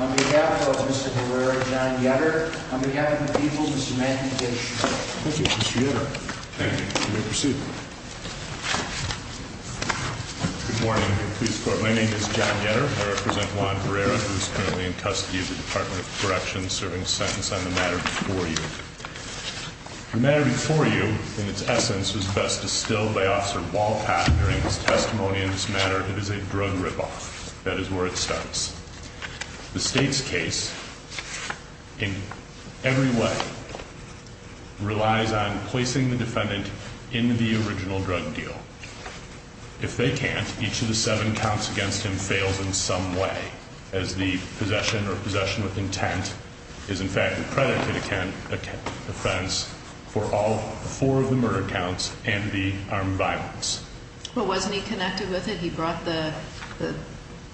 on behalf of Mr. Herrera, John Yetter, on behalf of the people, Mr. Matthew Dish. Thank you, Mr. Yetter. Thank you. You may proceed. Good morning, please. My name is John Yetter. I represent Juan Herrera, who is currently in custody of the Department of Corrections, serving a sentence on the matter before you. The matter before you, in its essence, was best distilled by Officer Walcott during his testimony in this matter. It is a drug rip-off. That is where it starts. The state's case, in every way, relies on placing the defendant in the original drug deal. If they can't, each of the seven counts against him fails in some way, as the possession or possession with intent is in fact a predicated offense for all four of the murder counts and the armed violence. Well, wasn't he connected with it? He brought the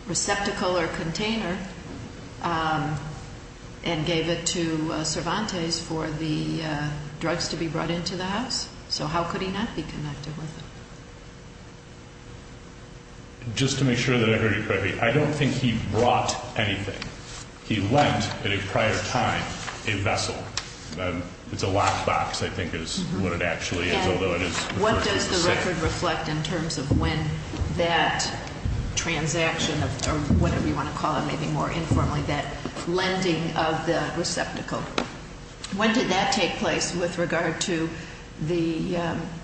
receptacle or container and gave it to Cervantes for the drugs to be brought into the house. So how could he not be connected with it? Just to make sure that I heard you correctly, I don't think he brought anything. He lent, at a prior time, a vessel. It's a lockbox, I think is what it actually is, although it is referred to as a safe. What does the record reflect in terms of when that transaction, or whatever you want to call it, maybe more informally, that lending of the receptacle, when did that take place with regard to the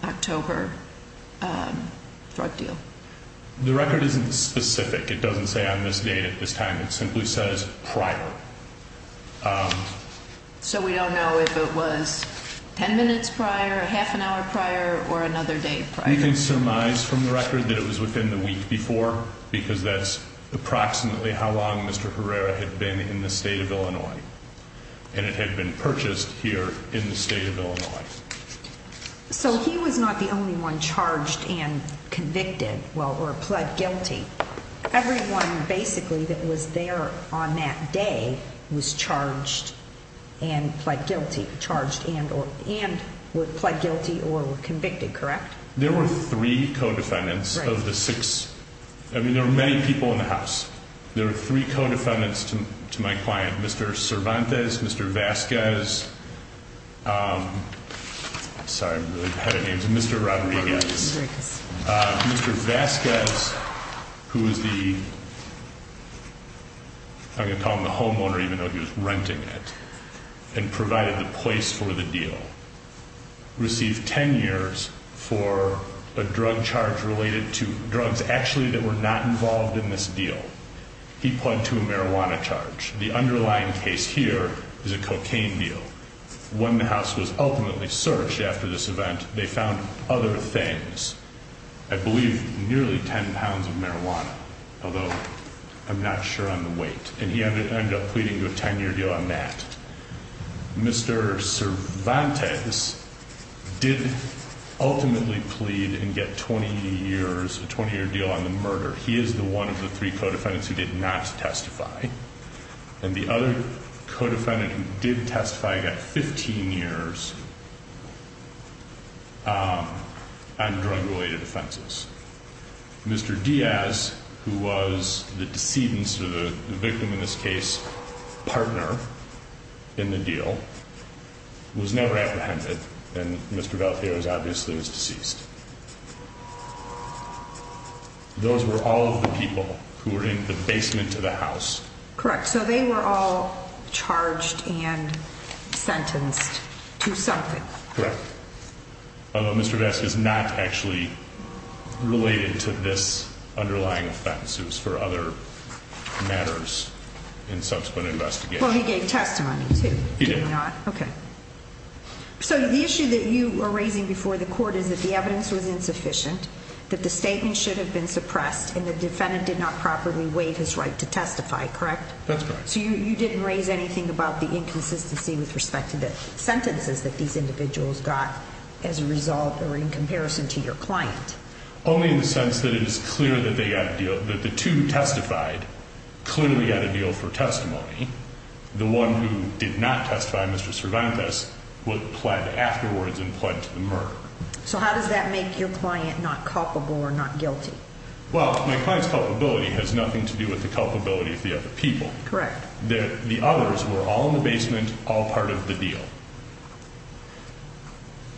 October drug deal? The record isn't specific. It doesn't say on this date, at this time. It simply says prior. So we don't know if it was 10 minutes prior, half an hour prior, or another day prior? You can surmise from the record that it was within the week before, because that's approximately how long Mr. Herrera had been in the state of Illinois, and it had been purchased here in the state of Illinois. So he was not the only one charged and convicted, or pled guilty. Everyone, basically, that was there on that day was charged and pled guilty, or were convicted, correct? There were three co-defendants of the six. I mean, there were many people in the house. There were three co-defendants to my client, Mr. Cervantes, Mr. Vasquez. Sorry, I'm really bad at names. Mr. Rodriguez. Mr. Vasquez, who was the, I'm going to call him the homeowner even though he was renting it, and provided the place for the deal, received 10 years for a drug charge related to drugs actually that were not involved in this deal. He pled to a marijuana charge. The underlying case here is a cocaine deal. When the house was ultimately searched after this event, they found other things. I believe nearly 10 pounds of marijuana, although I'm not sure on the weight. And he ended up pleading to a 10-year deal on that. Mr. Cervantes did ultimately plead and get 20 years, a 20-year deal on the murder. He is the one of the three co-defendants who did not testify. And the other co-defendant who did testify got 15 years on drug-related offenses. Mr. Diaz, who was the decedent or the victim in this case, partner in the deal, was never apprehended. And Mr. Valdez, obviously, was deceased. Those were all of the people who were in the basement of the house. Correct. So they were all charged and sentenced to something. Correct. Although Mr. Vasquez is not actually related to this underlying offense. It was for other matters in subsequent investigation. Well, he gave testimony, too. He did. No, he did not. Okay. So the issue that you were raising before the court is that the evidence was insufficient, that the statement should have been suppressed, and the defendant did not properly waive his right to testify, correct? That's correct. So you didn't raise anything about the inconsistency with respect to the sentences that these individuals got as a result or in comparison to your client? Only in the sense that it is clear that the two who testified clearly got a deal for testimony. The one who did not testify, Mr. Cervantes, was pled afterwards and pled to the murder. So how does that make your client not culpable or not guilty? Well, my client's culpability has nothing to do with the culpability of the other people. Correct. The others were all in the basement, all part of the deal.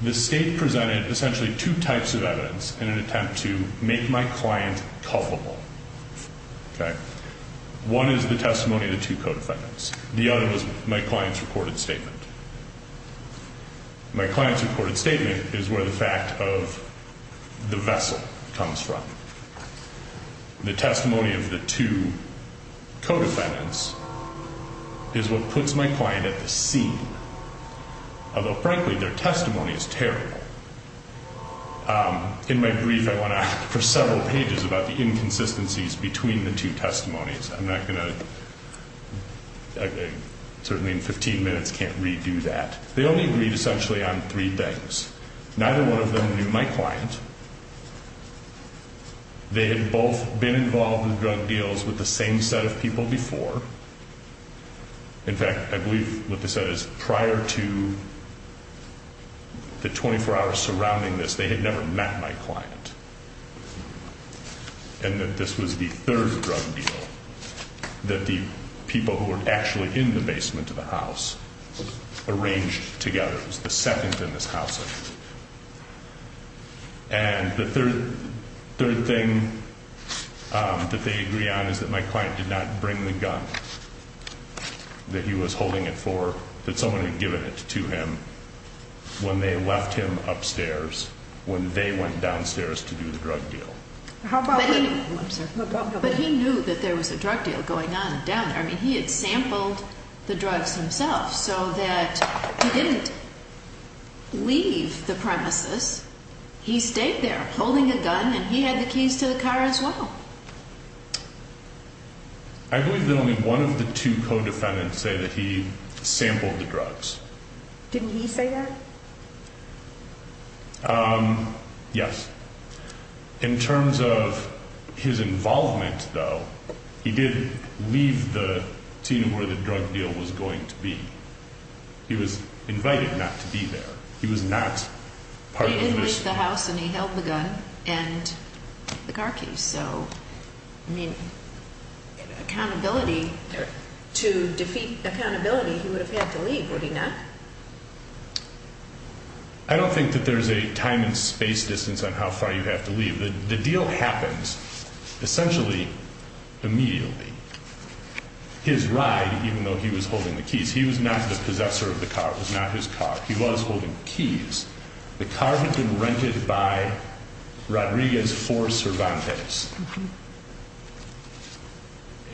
The state presented essentially two types of evidence in an attempt to make my client culpable, okay? One is the testimony of the two co-defendants. The other was my client's recorded statement. My client's recorded statement is where the fact of the vessel comes from. The testimony of the two co-defendants is what puts my client at the scene, although frankly their testimony is terrible. In my brief, I went on for several pages about the inconsistencies between the two testimonies. I'm not going to, certainly in 15 minutes can't redo that. They only agreed essentially on three things. Neither one of them knew my client. They had both been involved in drug deals with the same set of people before. In fact, I believe what they said is prior to the 24 hours surrounding this, they had never met my client. And that this was the third drug deal that the people who were actually in the basement of the house arranged together. It was the second in this house. And the third thing that they agree on is that my client did not bring the gun that he was holding it for, that someone had given it to him when they left him upstairs when they went downstairs to do the drug deal. But he knew that there was a drug deal going on down there. I mean, he had sampled the drugs himself so that he didn't leave the premises. He stayed there holding a gun and he had the keys to the car as well. I believe that only one of the two co-defendants say that he sampled the drugs. Didn't he say that? Yes. In terms of his involvement, though, he did leave the scene where the drug deal was going to be. He was invited not to be there. He was not part of the mission. He did leave the house and he held the gun and the car keys. So, I mean, accountability, to defeat accountability, he would have had to leave, would he not? I don't think that there's a time and space distance on how far you have to leave. The deal happens essentially immediately. His ride, even though he was holding the keys, he was not the possessor of the car. It was not his car. He was holding keys. The car had been rented by Rodriguez for Cervantes.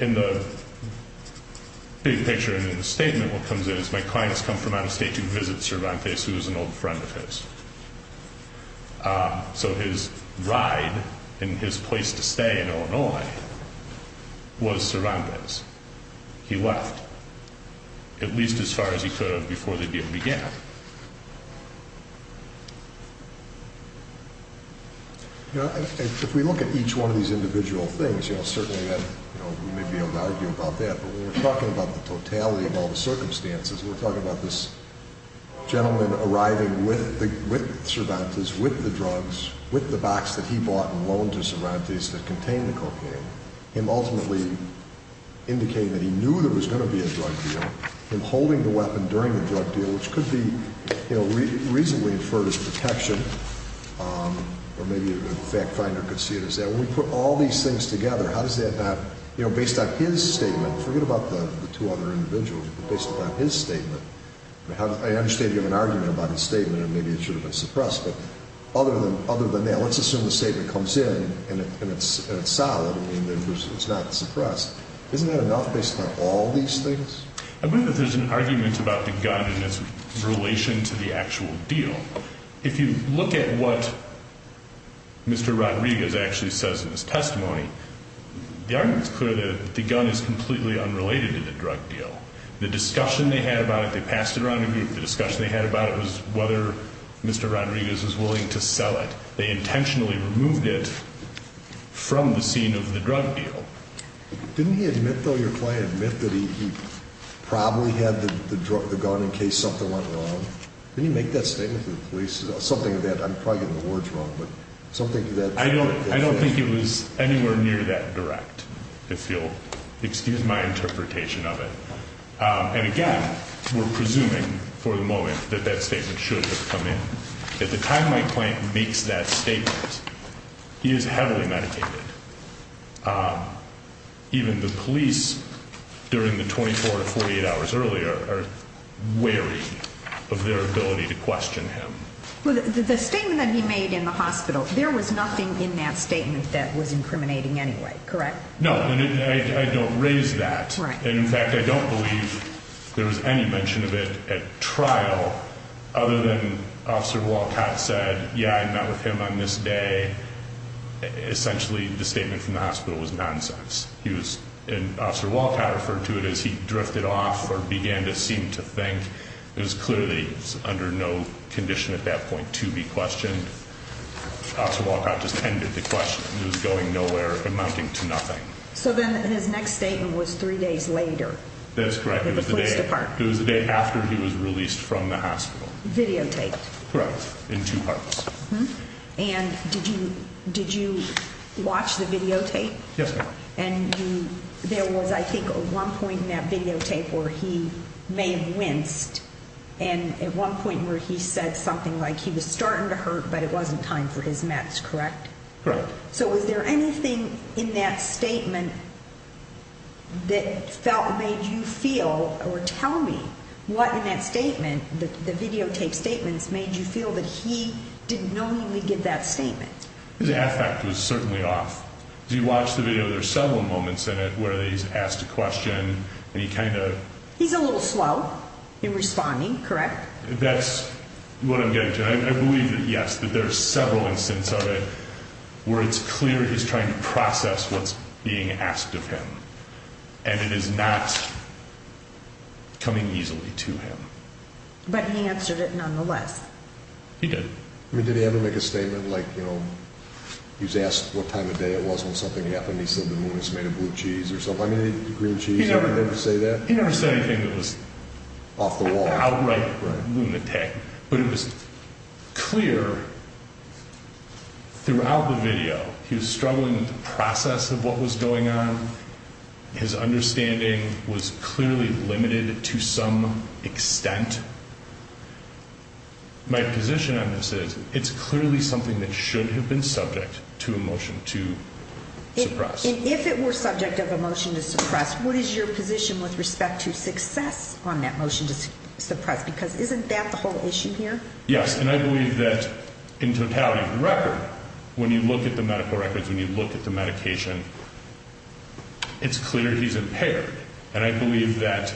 In the big picture, in the statement, what comes in is my clients come from out of state to visit Cervantes, who was an old friend of his. So his ride and his place to stay in Illinois was Cervantes. He left, at least as far as he could have before the deal began. If we look at each one of these individual things, certainly we may be able to argue about that, but when we're talking about the totality of all the circumstances, we're talking about this gentleman arriving with Cervantes, with the drugs, with the box that he bought and loaned to Cervantes that contained the cocaine, him ultimately indicating that he knew there was going to be a drug deal, him holding the weapon during the drug deal, which could be reasonably inferred as protection, or maybe a fact finder could see it as that. When we put all these things together, how does that not, based on his statement, forget about the two other individuals, but based on his statement, I understand you have an argument about his statement and maybe it should have been suppressed, but other than that, let's assume the statement comes in and it's solid and it's not suppressed. Isn't that enough based on all these things? I believe that there's an argument about the gun and its relation to the actual deal. If you look at what Mr. Rodriguez actually says in his testimony, the argument's clear that the gun is completely unrelated to the drug deal. The discussion they had about it, they passed it around the group, the discussion they had about it was whether Mr. Rodriguez was willing to sell it. They intentionally removed it from the scene of the drug deal. Didn't he admit, though, your client, admit that he probably had the gun in case something went wrong? Didn't he make that statement to the police? Something that, I'm probably getting the words wrong, but something that... I don't think it was anywhere near that direct, if you'll excuse my interpretation of it. And again, we're presuming for the moment that that statement should have come in. At the time my client makes that statement, he is heavily medicated. Even the police, during the 24 to 48 hours earlier, are wary of their ability to question him. The statement that he made in the hospital, there was nothing in that statement that was incriminating anyway, correct? No, and I don't raise that. And in fact, I don't believe there was any mention of it at trial, other than Officer Walcott said, yeah, I met with him on this day. And essentially, the statement from the hospital was nonsense. And Officer Walcott referred to it as he drifted off or began to seem to think. It was clear that he was under no condition at that point to be questioned. Officer Walcott just ended the question. It was going nowhere, amounting to nothing. So then his next statement was three days later. That's correct. At the police department. It was the day after he was released from the hospital. Videotaped. Correct, in two parts. And did you watch the videotape? Yes, ma'am. And there was, I think, one point in that videotape where he may have winced. And at one point where he said something like he was starting to hurt, but it wasn't time for his meds, correct? Correct. So was there anything in that statement that made you feel or tell me what in that statement, the videotape statements, made you feel that he didn't knowingly give that statement? His affect was certainly off. As you watch the video, there are several moments in it where he's asked a question and he kind of... He's a little slow in responding, correct? That's what I'm getting to. And I believe that, yes, that there are several instances of it where it's clear he's trying to process what's being asked of him. And it is not coming easily to him. But he answered it nonetheless. He did. I mean, did he ever make a statement like, you know, he was asked what time of day it was when something happened, and he said the moon was made of blue cheese or something? I mean, green cheese, did he ever say that? He never said anything that was... Off the wall. Outright lunatic. But it was clear throughout the video he was struggling with the process of what was going on. His understanding was clearly limited to some extent. My position on this is it's clearly something that should have been subject to a motion to suppress. And if it were subject of a motion to suppress, what is your position with respect to success on that motion to suppress? Because isn't that the whole issue here? Yes, and I believe that in totality of the record, when you look at the medical records, when you look at the medication, it's clear he's impaired. And I believe that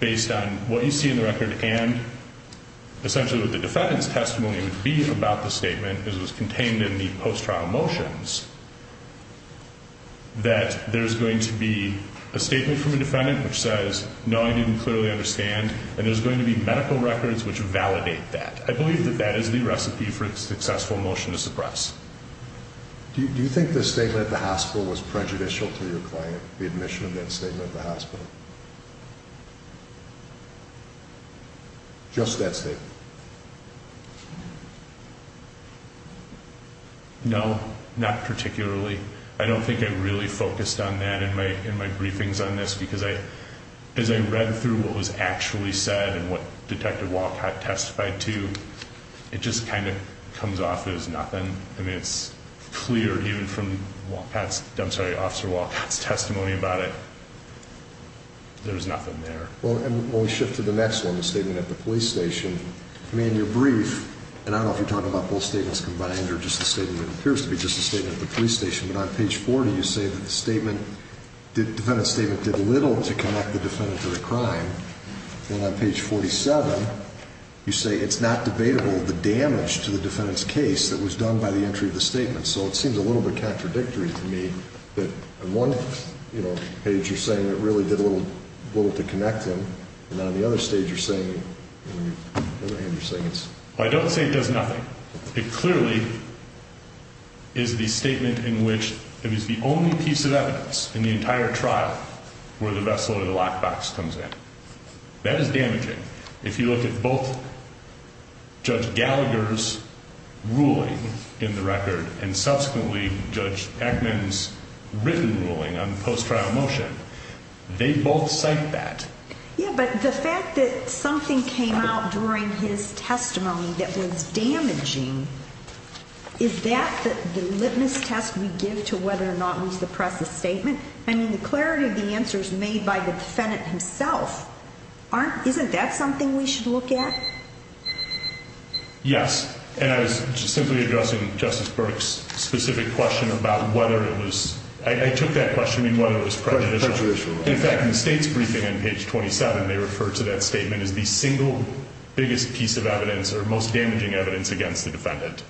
based on what you see in the record and essentially what the defendant's testimony would be about the statement, as was contained in the post-trial motions, that there's going to be a statement from a defendant which says, no, I didn't clearly understand, and there's going to be medical records which validate that. I believe that that is the recipe for a successful motion to suppress. Do you think the statement at the hospital was prejudicial to your client, the admission of that statement at the hospital? Just that statement? No, not particularly. I don't think I really focused on that in my briefings on this because as I read through what was actually said and what Detective Walcott testified to, it just kind of comes off as nothing. I mean, it's clear even from Officer Walcott's testimony about it, there was nothing there. Well, and when we shift to the next one, the statement at the police station, I mean, in your brief, and I don't know if you're talking about both statements combined or just the statement that appears to be just the statement at the police station, but on page 40, you say that the defendant's statement did little to connect the defendant to the crime. And on page 47, you say it's not debatable the damage to the defendant's case that was done by the entry of the statement. So it seems a little bit contradictory to me that on one page you're saying it really did little to connect them, and on the other stage you're saying it's... I don't say it does nothing. It clearly is the statement in which it was the only piece of evidence in the entire trial where the vessel or the lockbox comes in. That is damaging. If you look at both Judge Gallagher's ruling in the record and subsequently Judge Eckman's written ruling on post-trial motion, they both cite that. Yeah, but the fact that something came out during his testimony that was damaging, is that the litmus test we give to whether or not we suppress the statement? I mean, the clarity of the answer is made by the defendant himself. Isn't that something we should look at? Yes. And I was simply addressing Justice Burke's specific question about whether it was... I took that question, I mean, whether it was prejudicial. Prejudicial. In fact, in the State's briefing on page 27, they refer to that statement as the single biggest piece of evidence or most damaging evidence against the defendant.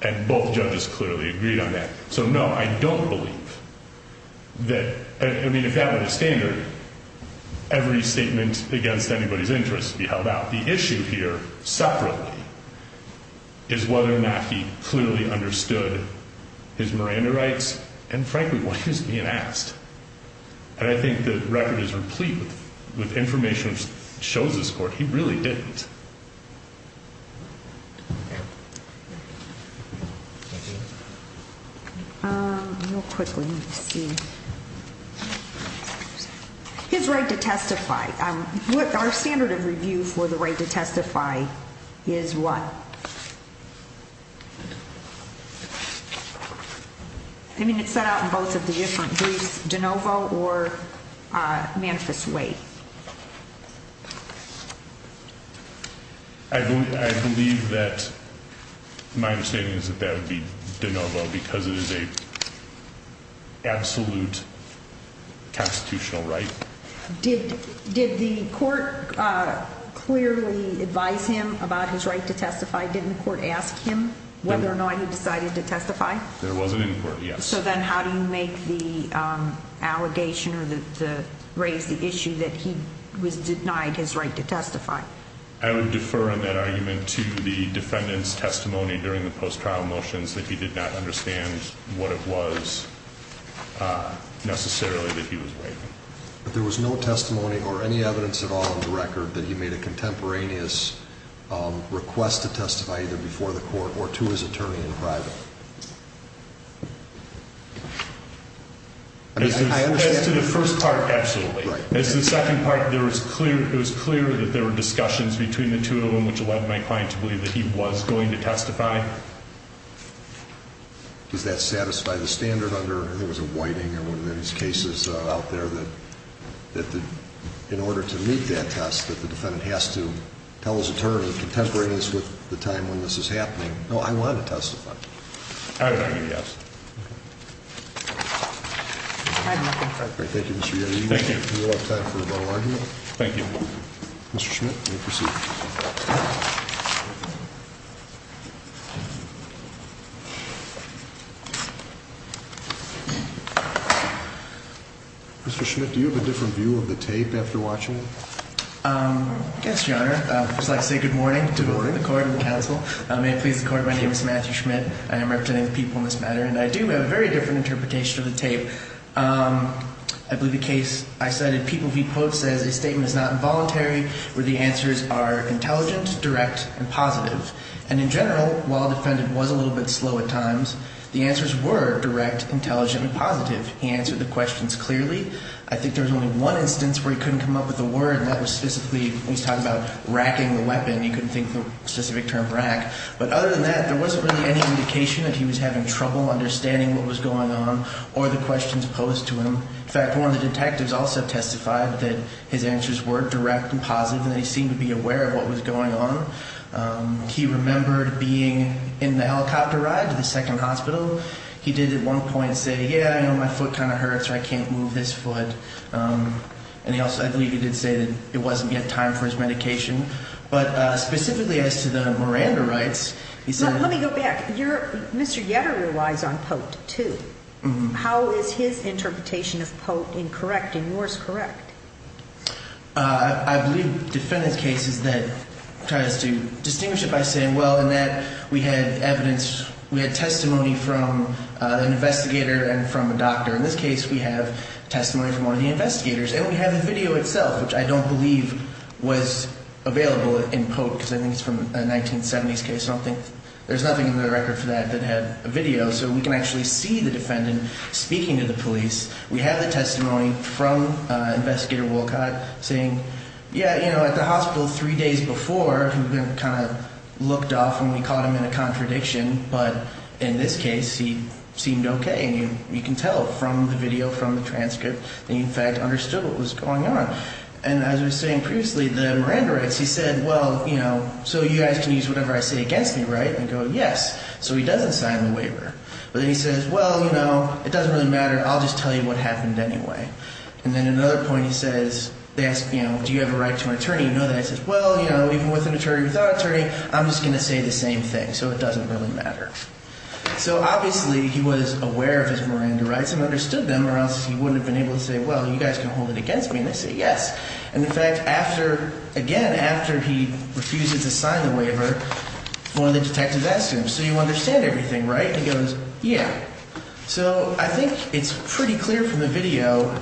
And both judges clearly agreed on that. So, no, I don't believe that... I mean, if that were the standard, every statement against anybody's interest would be held out. But the issue here, separately, is whether or not he clearly understood his Miranda rights and, frankly, why he was being asked. And I think the record is replete with information that shows this court he really didn't. His right to testify. Our standard of review for the right to testify is what? I mean, it's set out in both of the different briefs, de novo or manifest way. I believe that my understanding is that that would be de novo because it is an absolute constitutional right. Did the court clearly advise him about his right to testify? Didn't the court ask him whether or not he decided to testify? It wasn't in court, yes. So then how do you make the allegation or raise the issue that he was denied his right to testify? I would defer on that argument to the defendant's testimony during the post-trial motions that he did not understand what it was necessarily that he was waiving. But there was no testimony or any evidence at all in the record that he made a contemporaneous request to testify either before the court or to his attorney in private. As to the first part, absolutely. As to the second part, it was clear that there were discussions between the two of them which led my client to believe that he was going to testify. Does that satisfy the standard under, I think it was a whiting or one of those cases out there, that in order to meet that test, that the defendant has to tell his attorney contemporaneous with the time when this is happening? No, I want to testify. I would argue yes. Thank you, Mr. Yoder. Thank you. Do you have time for a final argument? Thank you. Mr. Schmidt, you may proceed. Mr. Schmidt, do you have a different view of the tape after watching it? Yes, Your Honor. I would just like to say good morning to the court and the counsel. May it please the court, my name is Matthew Schmidt. I am representing the people in this matter, and I do have a very different interpretation of the tape. I believe the case I cited, people he quotes, says a statement is not involuntary where the answers are intelligent, direct, and positive. And in general, while the defendant was a little bit slow at times, the answers were direct, intelligent, and positive. He answered the questions clearly. I think there was only one instance where he couldn't come up with a word, and that was specifically when he was talking about racking the weapon. He couldn't think of a specific term, rack. But other than that, there wasn't really any indication that he was having trouble understanding what was going on or the questions posed to him. In fact, one of the detectives also testified that his answers were direct and positive, and they seemed to be aware of what was going on. He remembered being in the helicopter ride to the second hospital. He did at one point say, yeah, I know my foot kind of hurts or I can't move this foot. And he also, I believe he did say that it wasn't yet time for his medication. But specifically as to the Miranda rights, he said – Let me go back. You're – Mr. Yetter relies on POTE, too. How is his interpretation of POTE incorrect and yours correct? I believe defendant's case is that tries to distinguish it by saying, well, in that we had evidence, we had testimony from an investigator and from a doctor. In this case, we have testimony from one of the investigators, and we have the video itself, which I don't believe was available in POTE because I think it's from a 1970s case. I don't think – there's nothing in the record for that that had a video. So we can actually see the defendant speaking to the police. We have the testimony from Investigator Wolcott saying, yeah, you know, at the hospital three days before, we kind of looked off and we caught him in a contradiction. But in this case, he seemed okay. And you can tell from the video, from the transcript, that he in fact understood what was going on. And as I was saying previously, the Miranda rights, he said, well, you know, so you guys can use whatever I say against me, right? And I go, yes. So he doesn't sign the waiver. But then he says, well, you know, it doesn't really matter. I'll just tell you what happened anyway. And then at another point he says – they ask, you know, do you have a right to an attorney? You know that. He says, well, you know, even with an attorney, without an attorney, I'm just going to say the same thing. So it doesn't really matter. So obviously he was aware of his Miranda rights and understood them or else he wouldn't have been able to say, well, you guys can hold it against me. And they say yes. And in fact, after – again, after he refuses to sign the waiver, one of the detectives asks him, so you understand everything, right? And he goes, yeah. So I think it's pretty clear from the video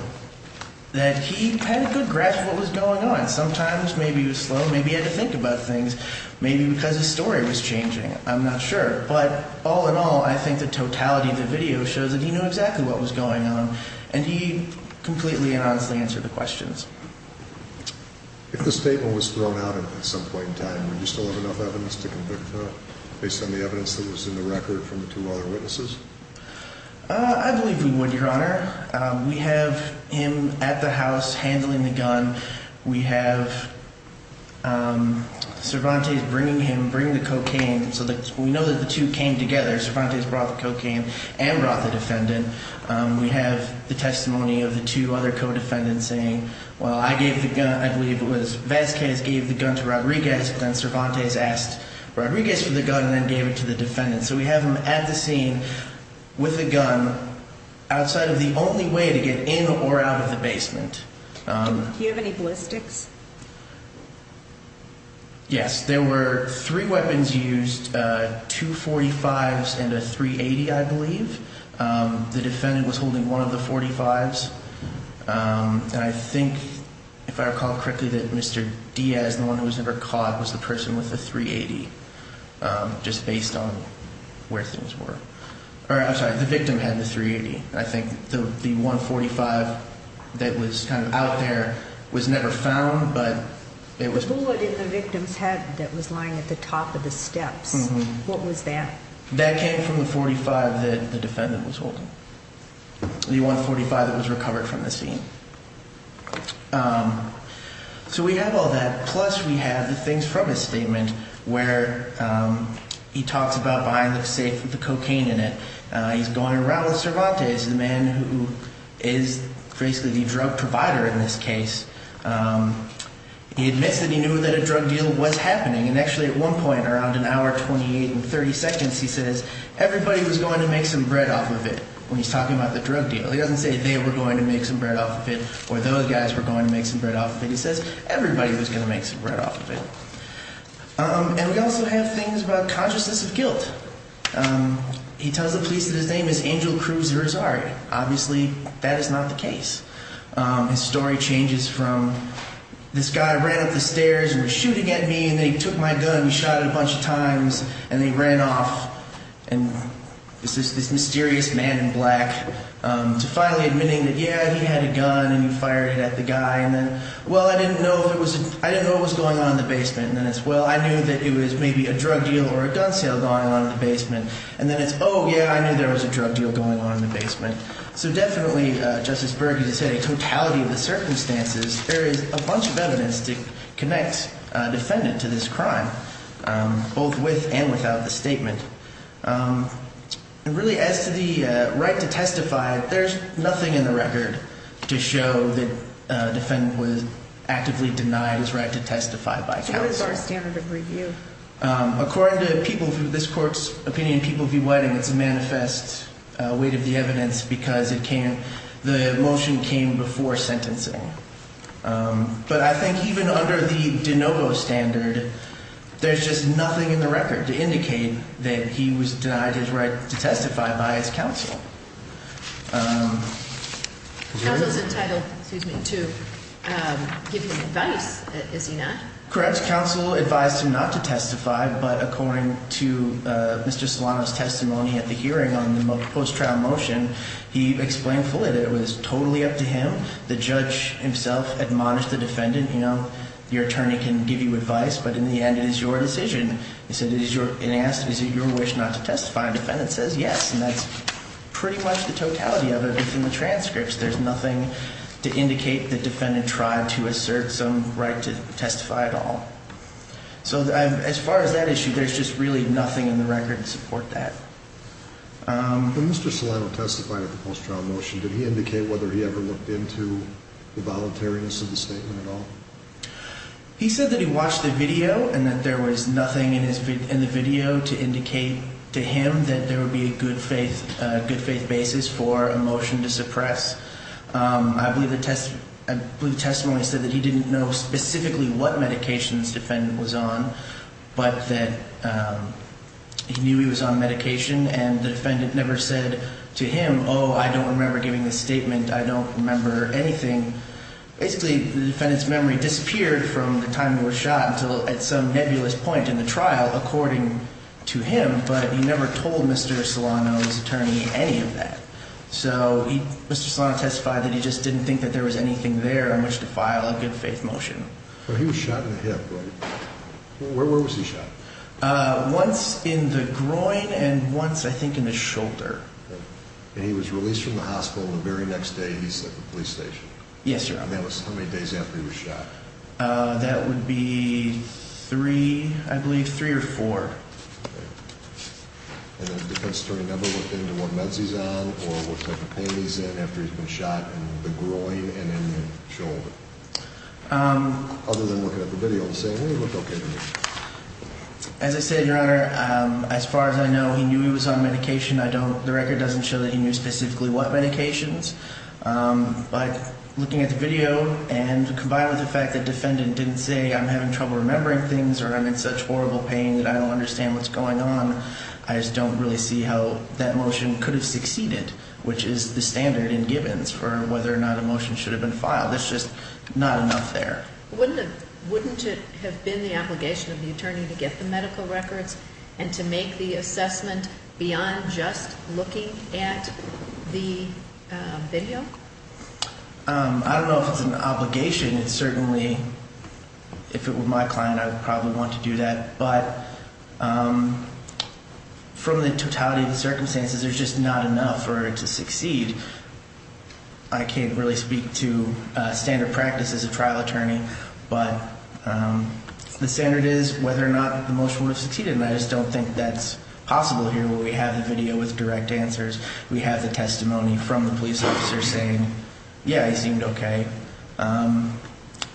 that he had a good grasp of what was going on. Sometimes maybe he was slow. Maybe he had to think about things. Maybe because his story was changing. I'm not sure. But all in all, I think the totality of the video shows that he knew exactly what was going on and he completely and honestly answered the questions. If the statement was thrown out at some point in time, would you still have enough evidence to convict him based on the evidence that was in the record from the two other witnesses? I believe we would, Your Honor. We have him at the house handling the gun. We have Cervantes bringing him, bringing the cocaine. So we know that the two came together. Cervantes brought the cocaine and brought the defendant. We have the testimony of the two other co-defendants saying, well, I gave the gun, I believe it was Vasquez gave the gun to Rodriguez, then Cervantes asked Rodriguez for the gun and then gave it to the defendant. So we have him at the scene with a gun outside of the only way to get in or out of the basement. Do you have any ballistics? Yes. There were three weapons used, two .45s and a .380, I believe. The defendant was holding one of the .45s. I think, if I recall correctly, that Mr. Diaz, the one who was never caught, was the person with the .380, just based on where things were. I'm sorry, the victim had the .380. I think the .145 that was kind of out there was never found, but it was. The bullet in the victim's head that was lying at the top of the steps, what was that? That came from the .45 that the defendant was holding, the .145 that was recovered from the scene. So we have all that, plus we have the things from his statement where he talks about buying the safe with the cocaine in it. He's going around with Cervantes, the man who is basically the drug provider in this case. He admits that he knew that a drug deal was happening, and actually at one point, around an hour, 28 and 30 seconds, he says, everybody was going to make some bread off of it when he's talking about the drug deal. He doesn't say they were going to make some bread off of it or those guys were going to make some bread off of it. He says everybody was going to make some bread off of it. And we also have things about consciousness of guilt. He tells the police that his name is Angel Cruz Rizari. Obviously, that is not the case. His story changes from this guy ran up the stairs and was shooting at me, and they took my gun and shot it a bunch of times, and they ran off, and this mysterious man in black to finally admitting that, yeah, he had a gun and he fired it at the guy. And then, well, I didn't know what was going on in the basement. And then it's, well, I knew that it was maybe a drug deal or a gun sale going on in the basement. And then it's, oh, yeah, I knew there was a drug deal going on in the basement. So definitely, Justice Berg, as I said, in totality of the circumstances, there is a bunch of evidence to connect a defendant to this crime, both with and without the statement. And really, as to the right to testify, there's nothing in the record to show that a defendant was actively denied his right to testify by counsel. According to this court's opinion, people v. Whiting, it's a manifest weight of the evidence because the motion came before sentencing. But I think even under the de novo standard, there's just nothing in the record to indicate that he was denied his right to testify by his counsel. Counsel is entitled to give him advice, is he not? Correct. Counsel advised him not to testify. But according to Mr. Solano's testimony at the hearing on the post-trial motion, he explained fully that it was totally up to him. The judge himself admonished the defendant, you know, your attorney can give you advice, but in the end, it is your decision. He said, is it your wish not to testify? And the defendant says yes, and that's pretty much the totality of it in the transcripts. There's nothing to indicate the defendant tried to assert some right to testify at all. So as far as that issue, there's just really nothing in the record to support that. When Mr. Solano testified at the post-trial motion, did he indicate whether he ever looked into the voluntariness of the statement at all? He said that he watched the video and that there was nothing in the video to indicate to him that there would be a good faith basis for a motion to suppress. I believe the testimony said that he didn't know specifically what medications the defendant was on, but that he knew he was on medication, and the defendant never said to him, oh, I don't remember giving the statement, I don't remember anything. Basically, the defendant's memory disappeared from the time he was shot until at some nebulous point in the trial, according to him, but he never told Mr. Solano's attorney any of that. So Mr. Solano testified that he just didn't think that there was anything there on which to file a good faith motion. He was shot in the hip, right? Where was he shot? Once in the groin and once, I think, in the shoulder. And he was released from the hospital and the very next day he's at the police station? Yes, Your Honor. And that was how many days after he was shot? That would be three, I believe, three or four. Okay. And the defense attorney never looked into what meds he's on or what type of pain he's in after he's been shot in the groin and in the shoulder? Other than looking at the video and saying, hey, it looked okay to me. As I said, Your Honor, as far as I know, he knew he was on medication. The record doesn't show that he knew specifically what medications. But looking at the video and combined with the fact that the defendant didn't say, I'm having trouble remembering things or I'm in such horrible pain that I don't understand what's going on, I just don't really see how that motion could have succeeded, which is the standard in Gibbons for whether or not a motion should have been filed. It's just not enough there. Wouldn't it have been the obligation of the attorney to get the medical records and to make the assessment beyond just looking at the video? I don't know if it's an obligation. It's certainly, if it were my client, I would probably want to do that. But from the totality of the circumstances, there's just not enough for it to succeed. I can't really speak to standard practice as a trial attorney, but the standard is whether or not the motion would have succeeded, and I just don't think that's possible here where we have the video with direct answers. We have the testimony from the police officer saying, yeah, he seemed okay.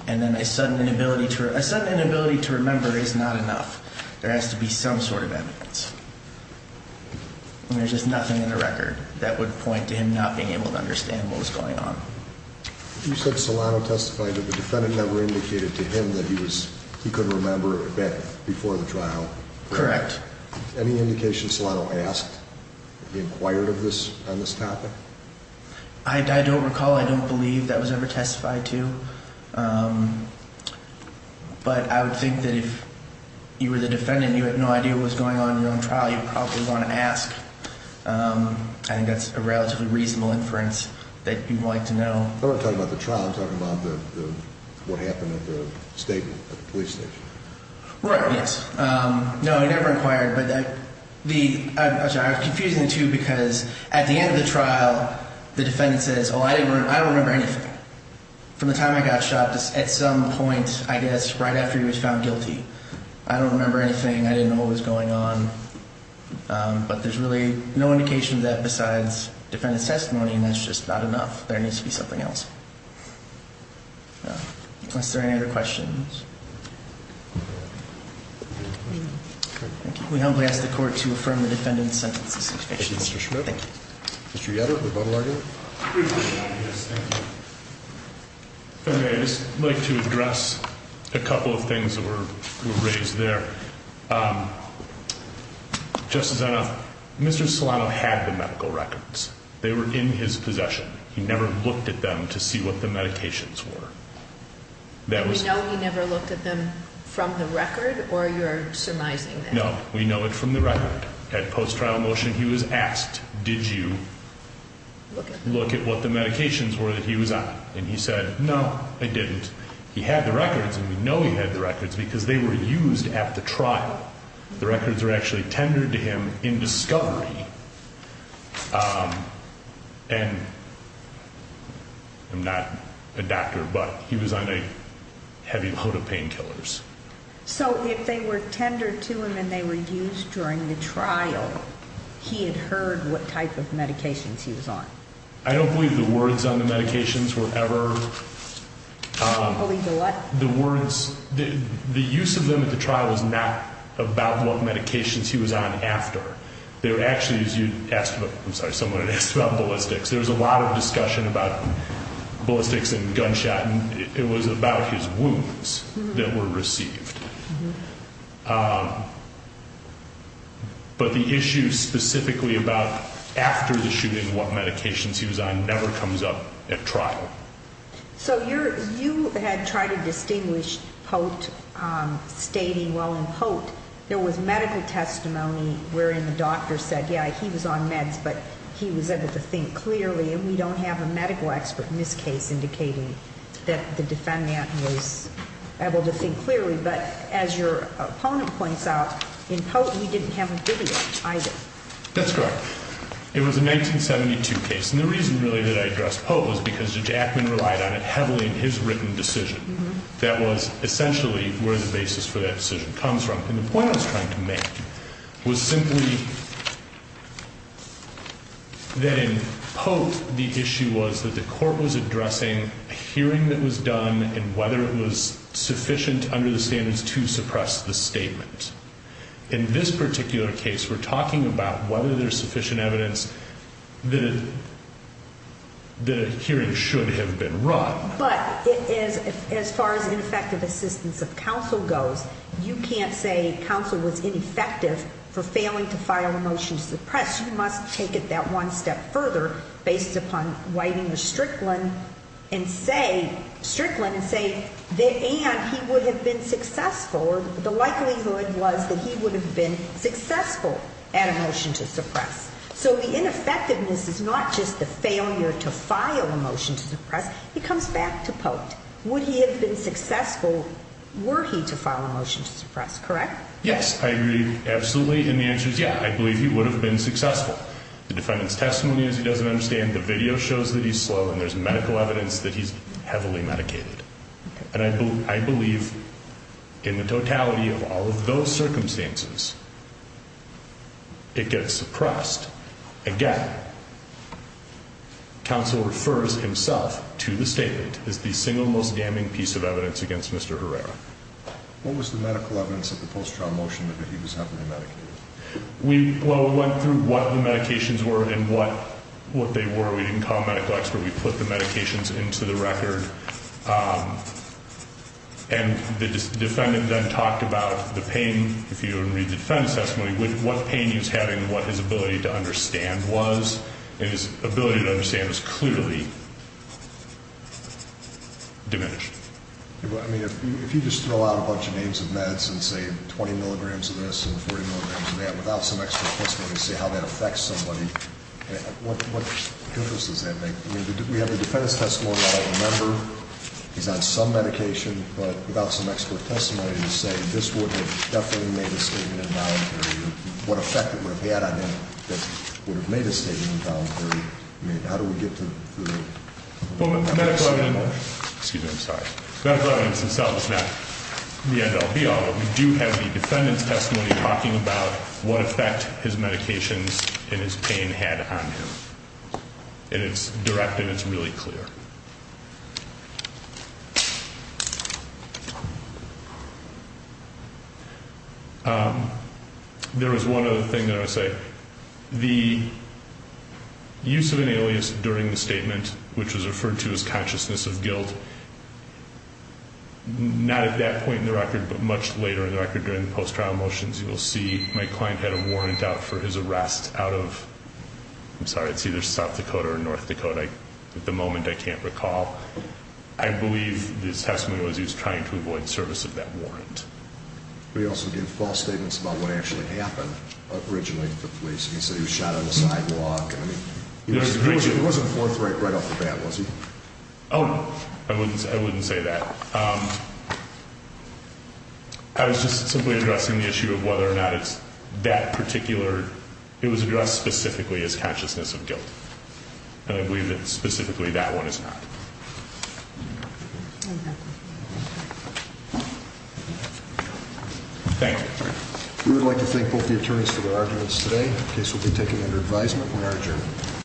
And then a sudden inability to remember is not enough. There has to be some sort of evidence. There's just nothing in the record that would point to him not being able to understand what was going on. You said Solano testified, but the defendant never indicated to him that he could remember a bit before the trial. Correct. Any indication Solano asked, he inquired on this topic? I don't recall. I don't believe that was ever testified to. But I would think that if you were the defendant and you had no idea what was going on in your own trial, you would probably want to ask. I think that's a relatively reasonable inference that you'd like to know. I'm not talking about the trial. I'm talking about what happened at the police station. Right, yes. No, he never inquired. Actually, I was confusing the two because at the end of the trial, the defendant says, oh, I don't remember anything. From the time I got shot, at some point, I guess, right after he was found guilty, I don't remember anything. I didn't know what was going on. But there's really no indication of that besides defendant's testimony, and that's just not enough. There needs to be something else. Unless there are any other questions. We humbly ask the court to affirm the defendant's sentence. Thank you, Mr. Schmidt. Thank you. Mr. Yetter, rebuttal argument? Yes, thank you. I'd just like to address a couple of things that were raised there. Just as I know, Mr. Solano had the medical records. They were in his possession. He never looked at them to see what the medications were. And we know he never looked at them from the record, or you're surmising that? No, we know it from the record. At post-trial motion, he was asked, did you look at what the medications were that he was on? And he said, no, I didn't. He had the records, and we know he had the records because they were used at the trial. The records were actually tendered to him in discovery. And I'm not a doctor, but he was on a heavy load of painkillers. So if they were tendered to him and they were used during the trial, he had heard what type of medications he was on? I don't believe the words on the medications were ever. You don't believe the what? The words. The use of them at the trial was not about what medications he was on after. They were actually, as you asked about, I'm sorry, someone had asked about ballistics. There was a lot of discussion about ballistics and gunshot. And it was about his wounds that were received. But the issue specifically about after the shooting, what medications he was on, never comes up at trial. So you had tried to distinguish Pote stating, well, in Pote there was medical testimony wherein the doctor said, yeah, he was on meds, but he was able to think clearly. And we don't have a medical expert in this case indicating that the defendant was able to think clearly. But as your opponent points out, in Pote he didn't have a dividend either. That's correct. It was a 1972 case. And the reason really that I addressed Pote was because Judge Ackman relied on it heavily in his written decision. That was essentially where the basis for that decision comes from. And the point I was trying to make was simply that in Pote the issue was that the court was addressing a hearing that was done and whether it was sufficient under the standards to suppress the statement. In this particular case we're talking about whether there's sufficient evidence that a hearing should have been run. But as far as ineffective assistance of counsel goes, you can't say counsel was ineffective for failing to file a motion to suppress. You must take it that one step further based upon writing to Strickland and say that he would have been successful. The likelihood was that he would have been successful at a motion to suppress. So the ineffectiveness is not just the failure to file a motion to suppress. It comes back to Pote. Would he have been successful were he to file a motion to suppress, correct? Yes, I agree absolutely. And the answer is yeah, I believe he would have been successful. The defendant's testimony is he doesn't understand. The video shows that he's slow. And there's medical evidence that he's heavily medicated. And I believe in the totality of all of those circumstances it gets suppressed. Again, counsel refers himself to the statement as the single most damning piece of evidence against Mr. Herrera. What was the medical evidence of the post-trial motion that he was heavily medicated? We went through what the medications were and what they were. We didn't call a medical expert. We put the medications into the record, and the defendant then talked about the pain. If you read the defendant's testimony, what pain he was having and what his ability to understand was. And his ability to understand was clearly diminished. If you just throw out a bunch of names of meds and say 20 milligrams of this and 40 milligrams of that without some extra testimony to say how that affects somebody, what difference does that make? We have the defendant's testimony that I remember. He's on some medication, but without some expert testimony to say this would have definitely made a statement in voluntary. What effect it would have had on him that would have made a statement in voluntary. I mean, how do we get to the- Well, medical evidence- Excuse me, I'm sorry. Medical evidence itself is not the end all, be all. But we do have the defendant's testimony talking about what effect his medications and his pain had on him. And it's direct and it's really clear. There was one other thing that I would say. The use of an alias during the statement, which was referred to as consciousness of guilt, not at that point in the record but much later in the record during the post-trial motions, you'll see my client had a warrant out for his arrest out of, I'm sorry, it's either South Dakota or North Dakota. At the moment, I can't recall. I believe his testimony was he was trying to avoid service of that warrant. He also gave false statements about what actually happened originally to the police. He said he was shot on the sidewalk. He wasn't forthright right off the bat, was he? Oh, no. I wouldn't say that. I was just simply addressing the issue of whether or not it's that particular, it was addressed specifically as consciousness of guilt. And I believe that specifically that one is not. Thank you. We would like to thank both the attorneys for their arguments today. The case will be taken under advisement from our attorney.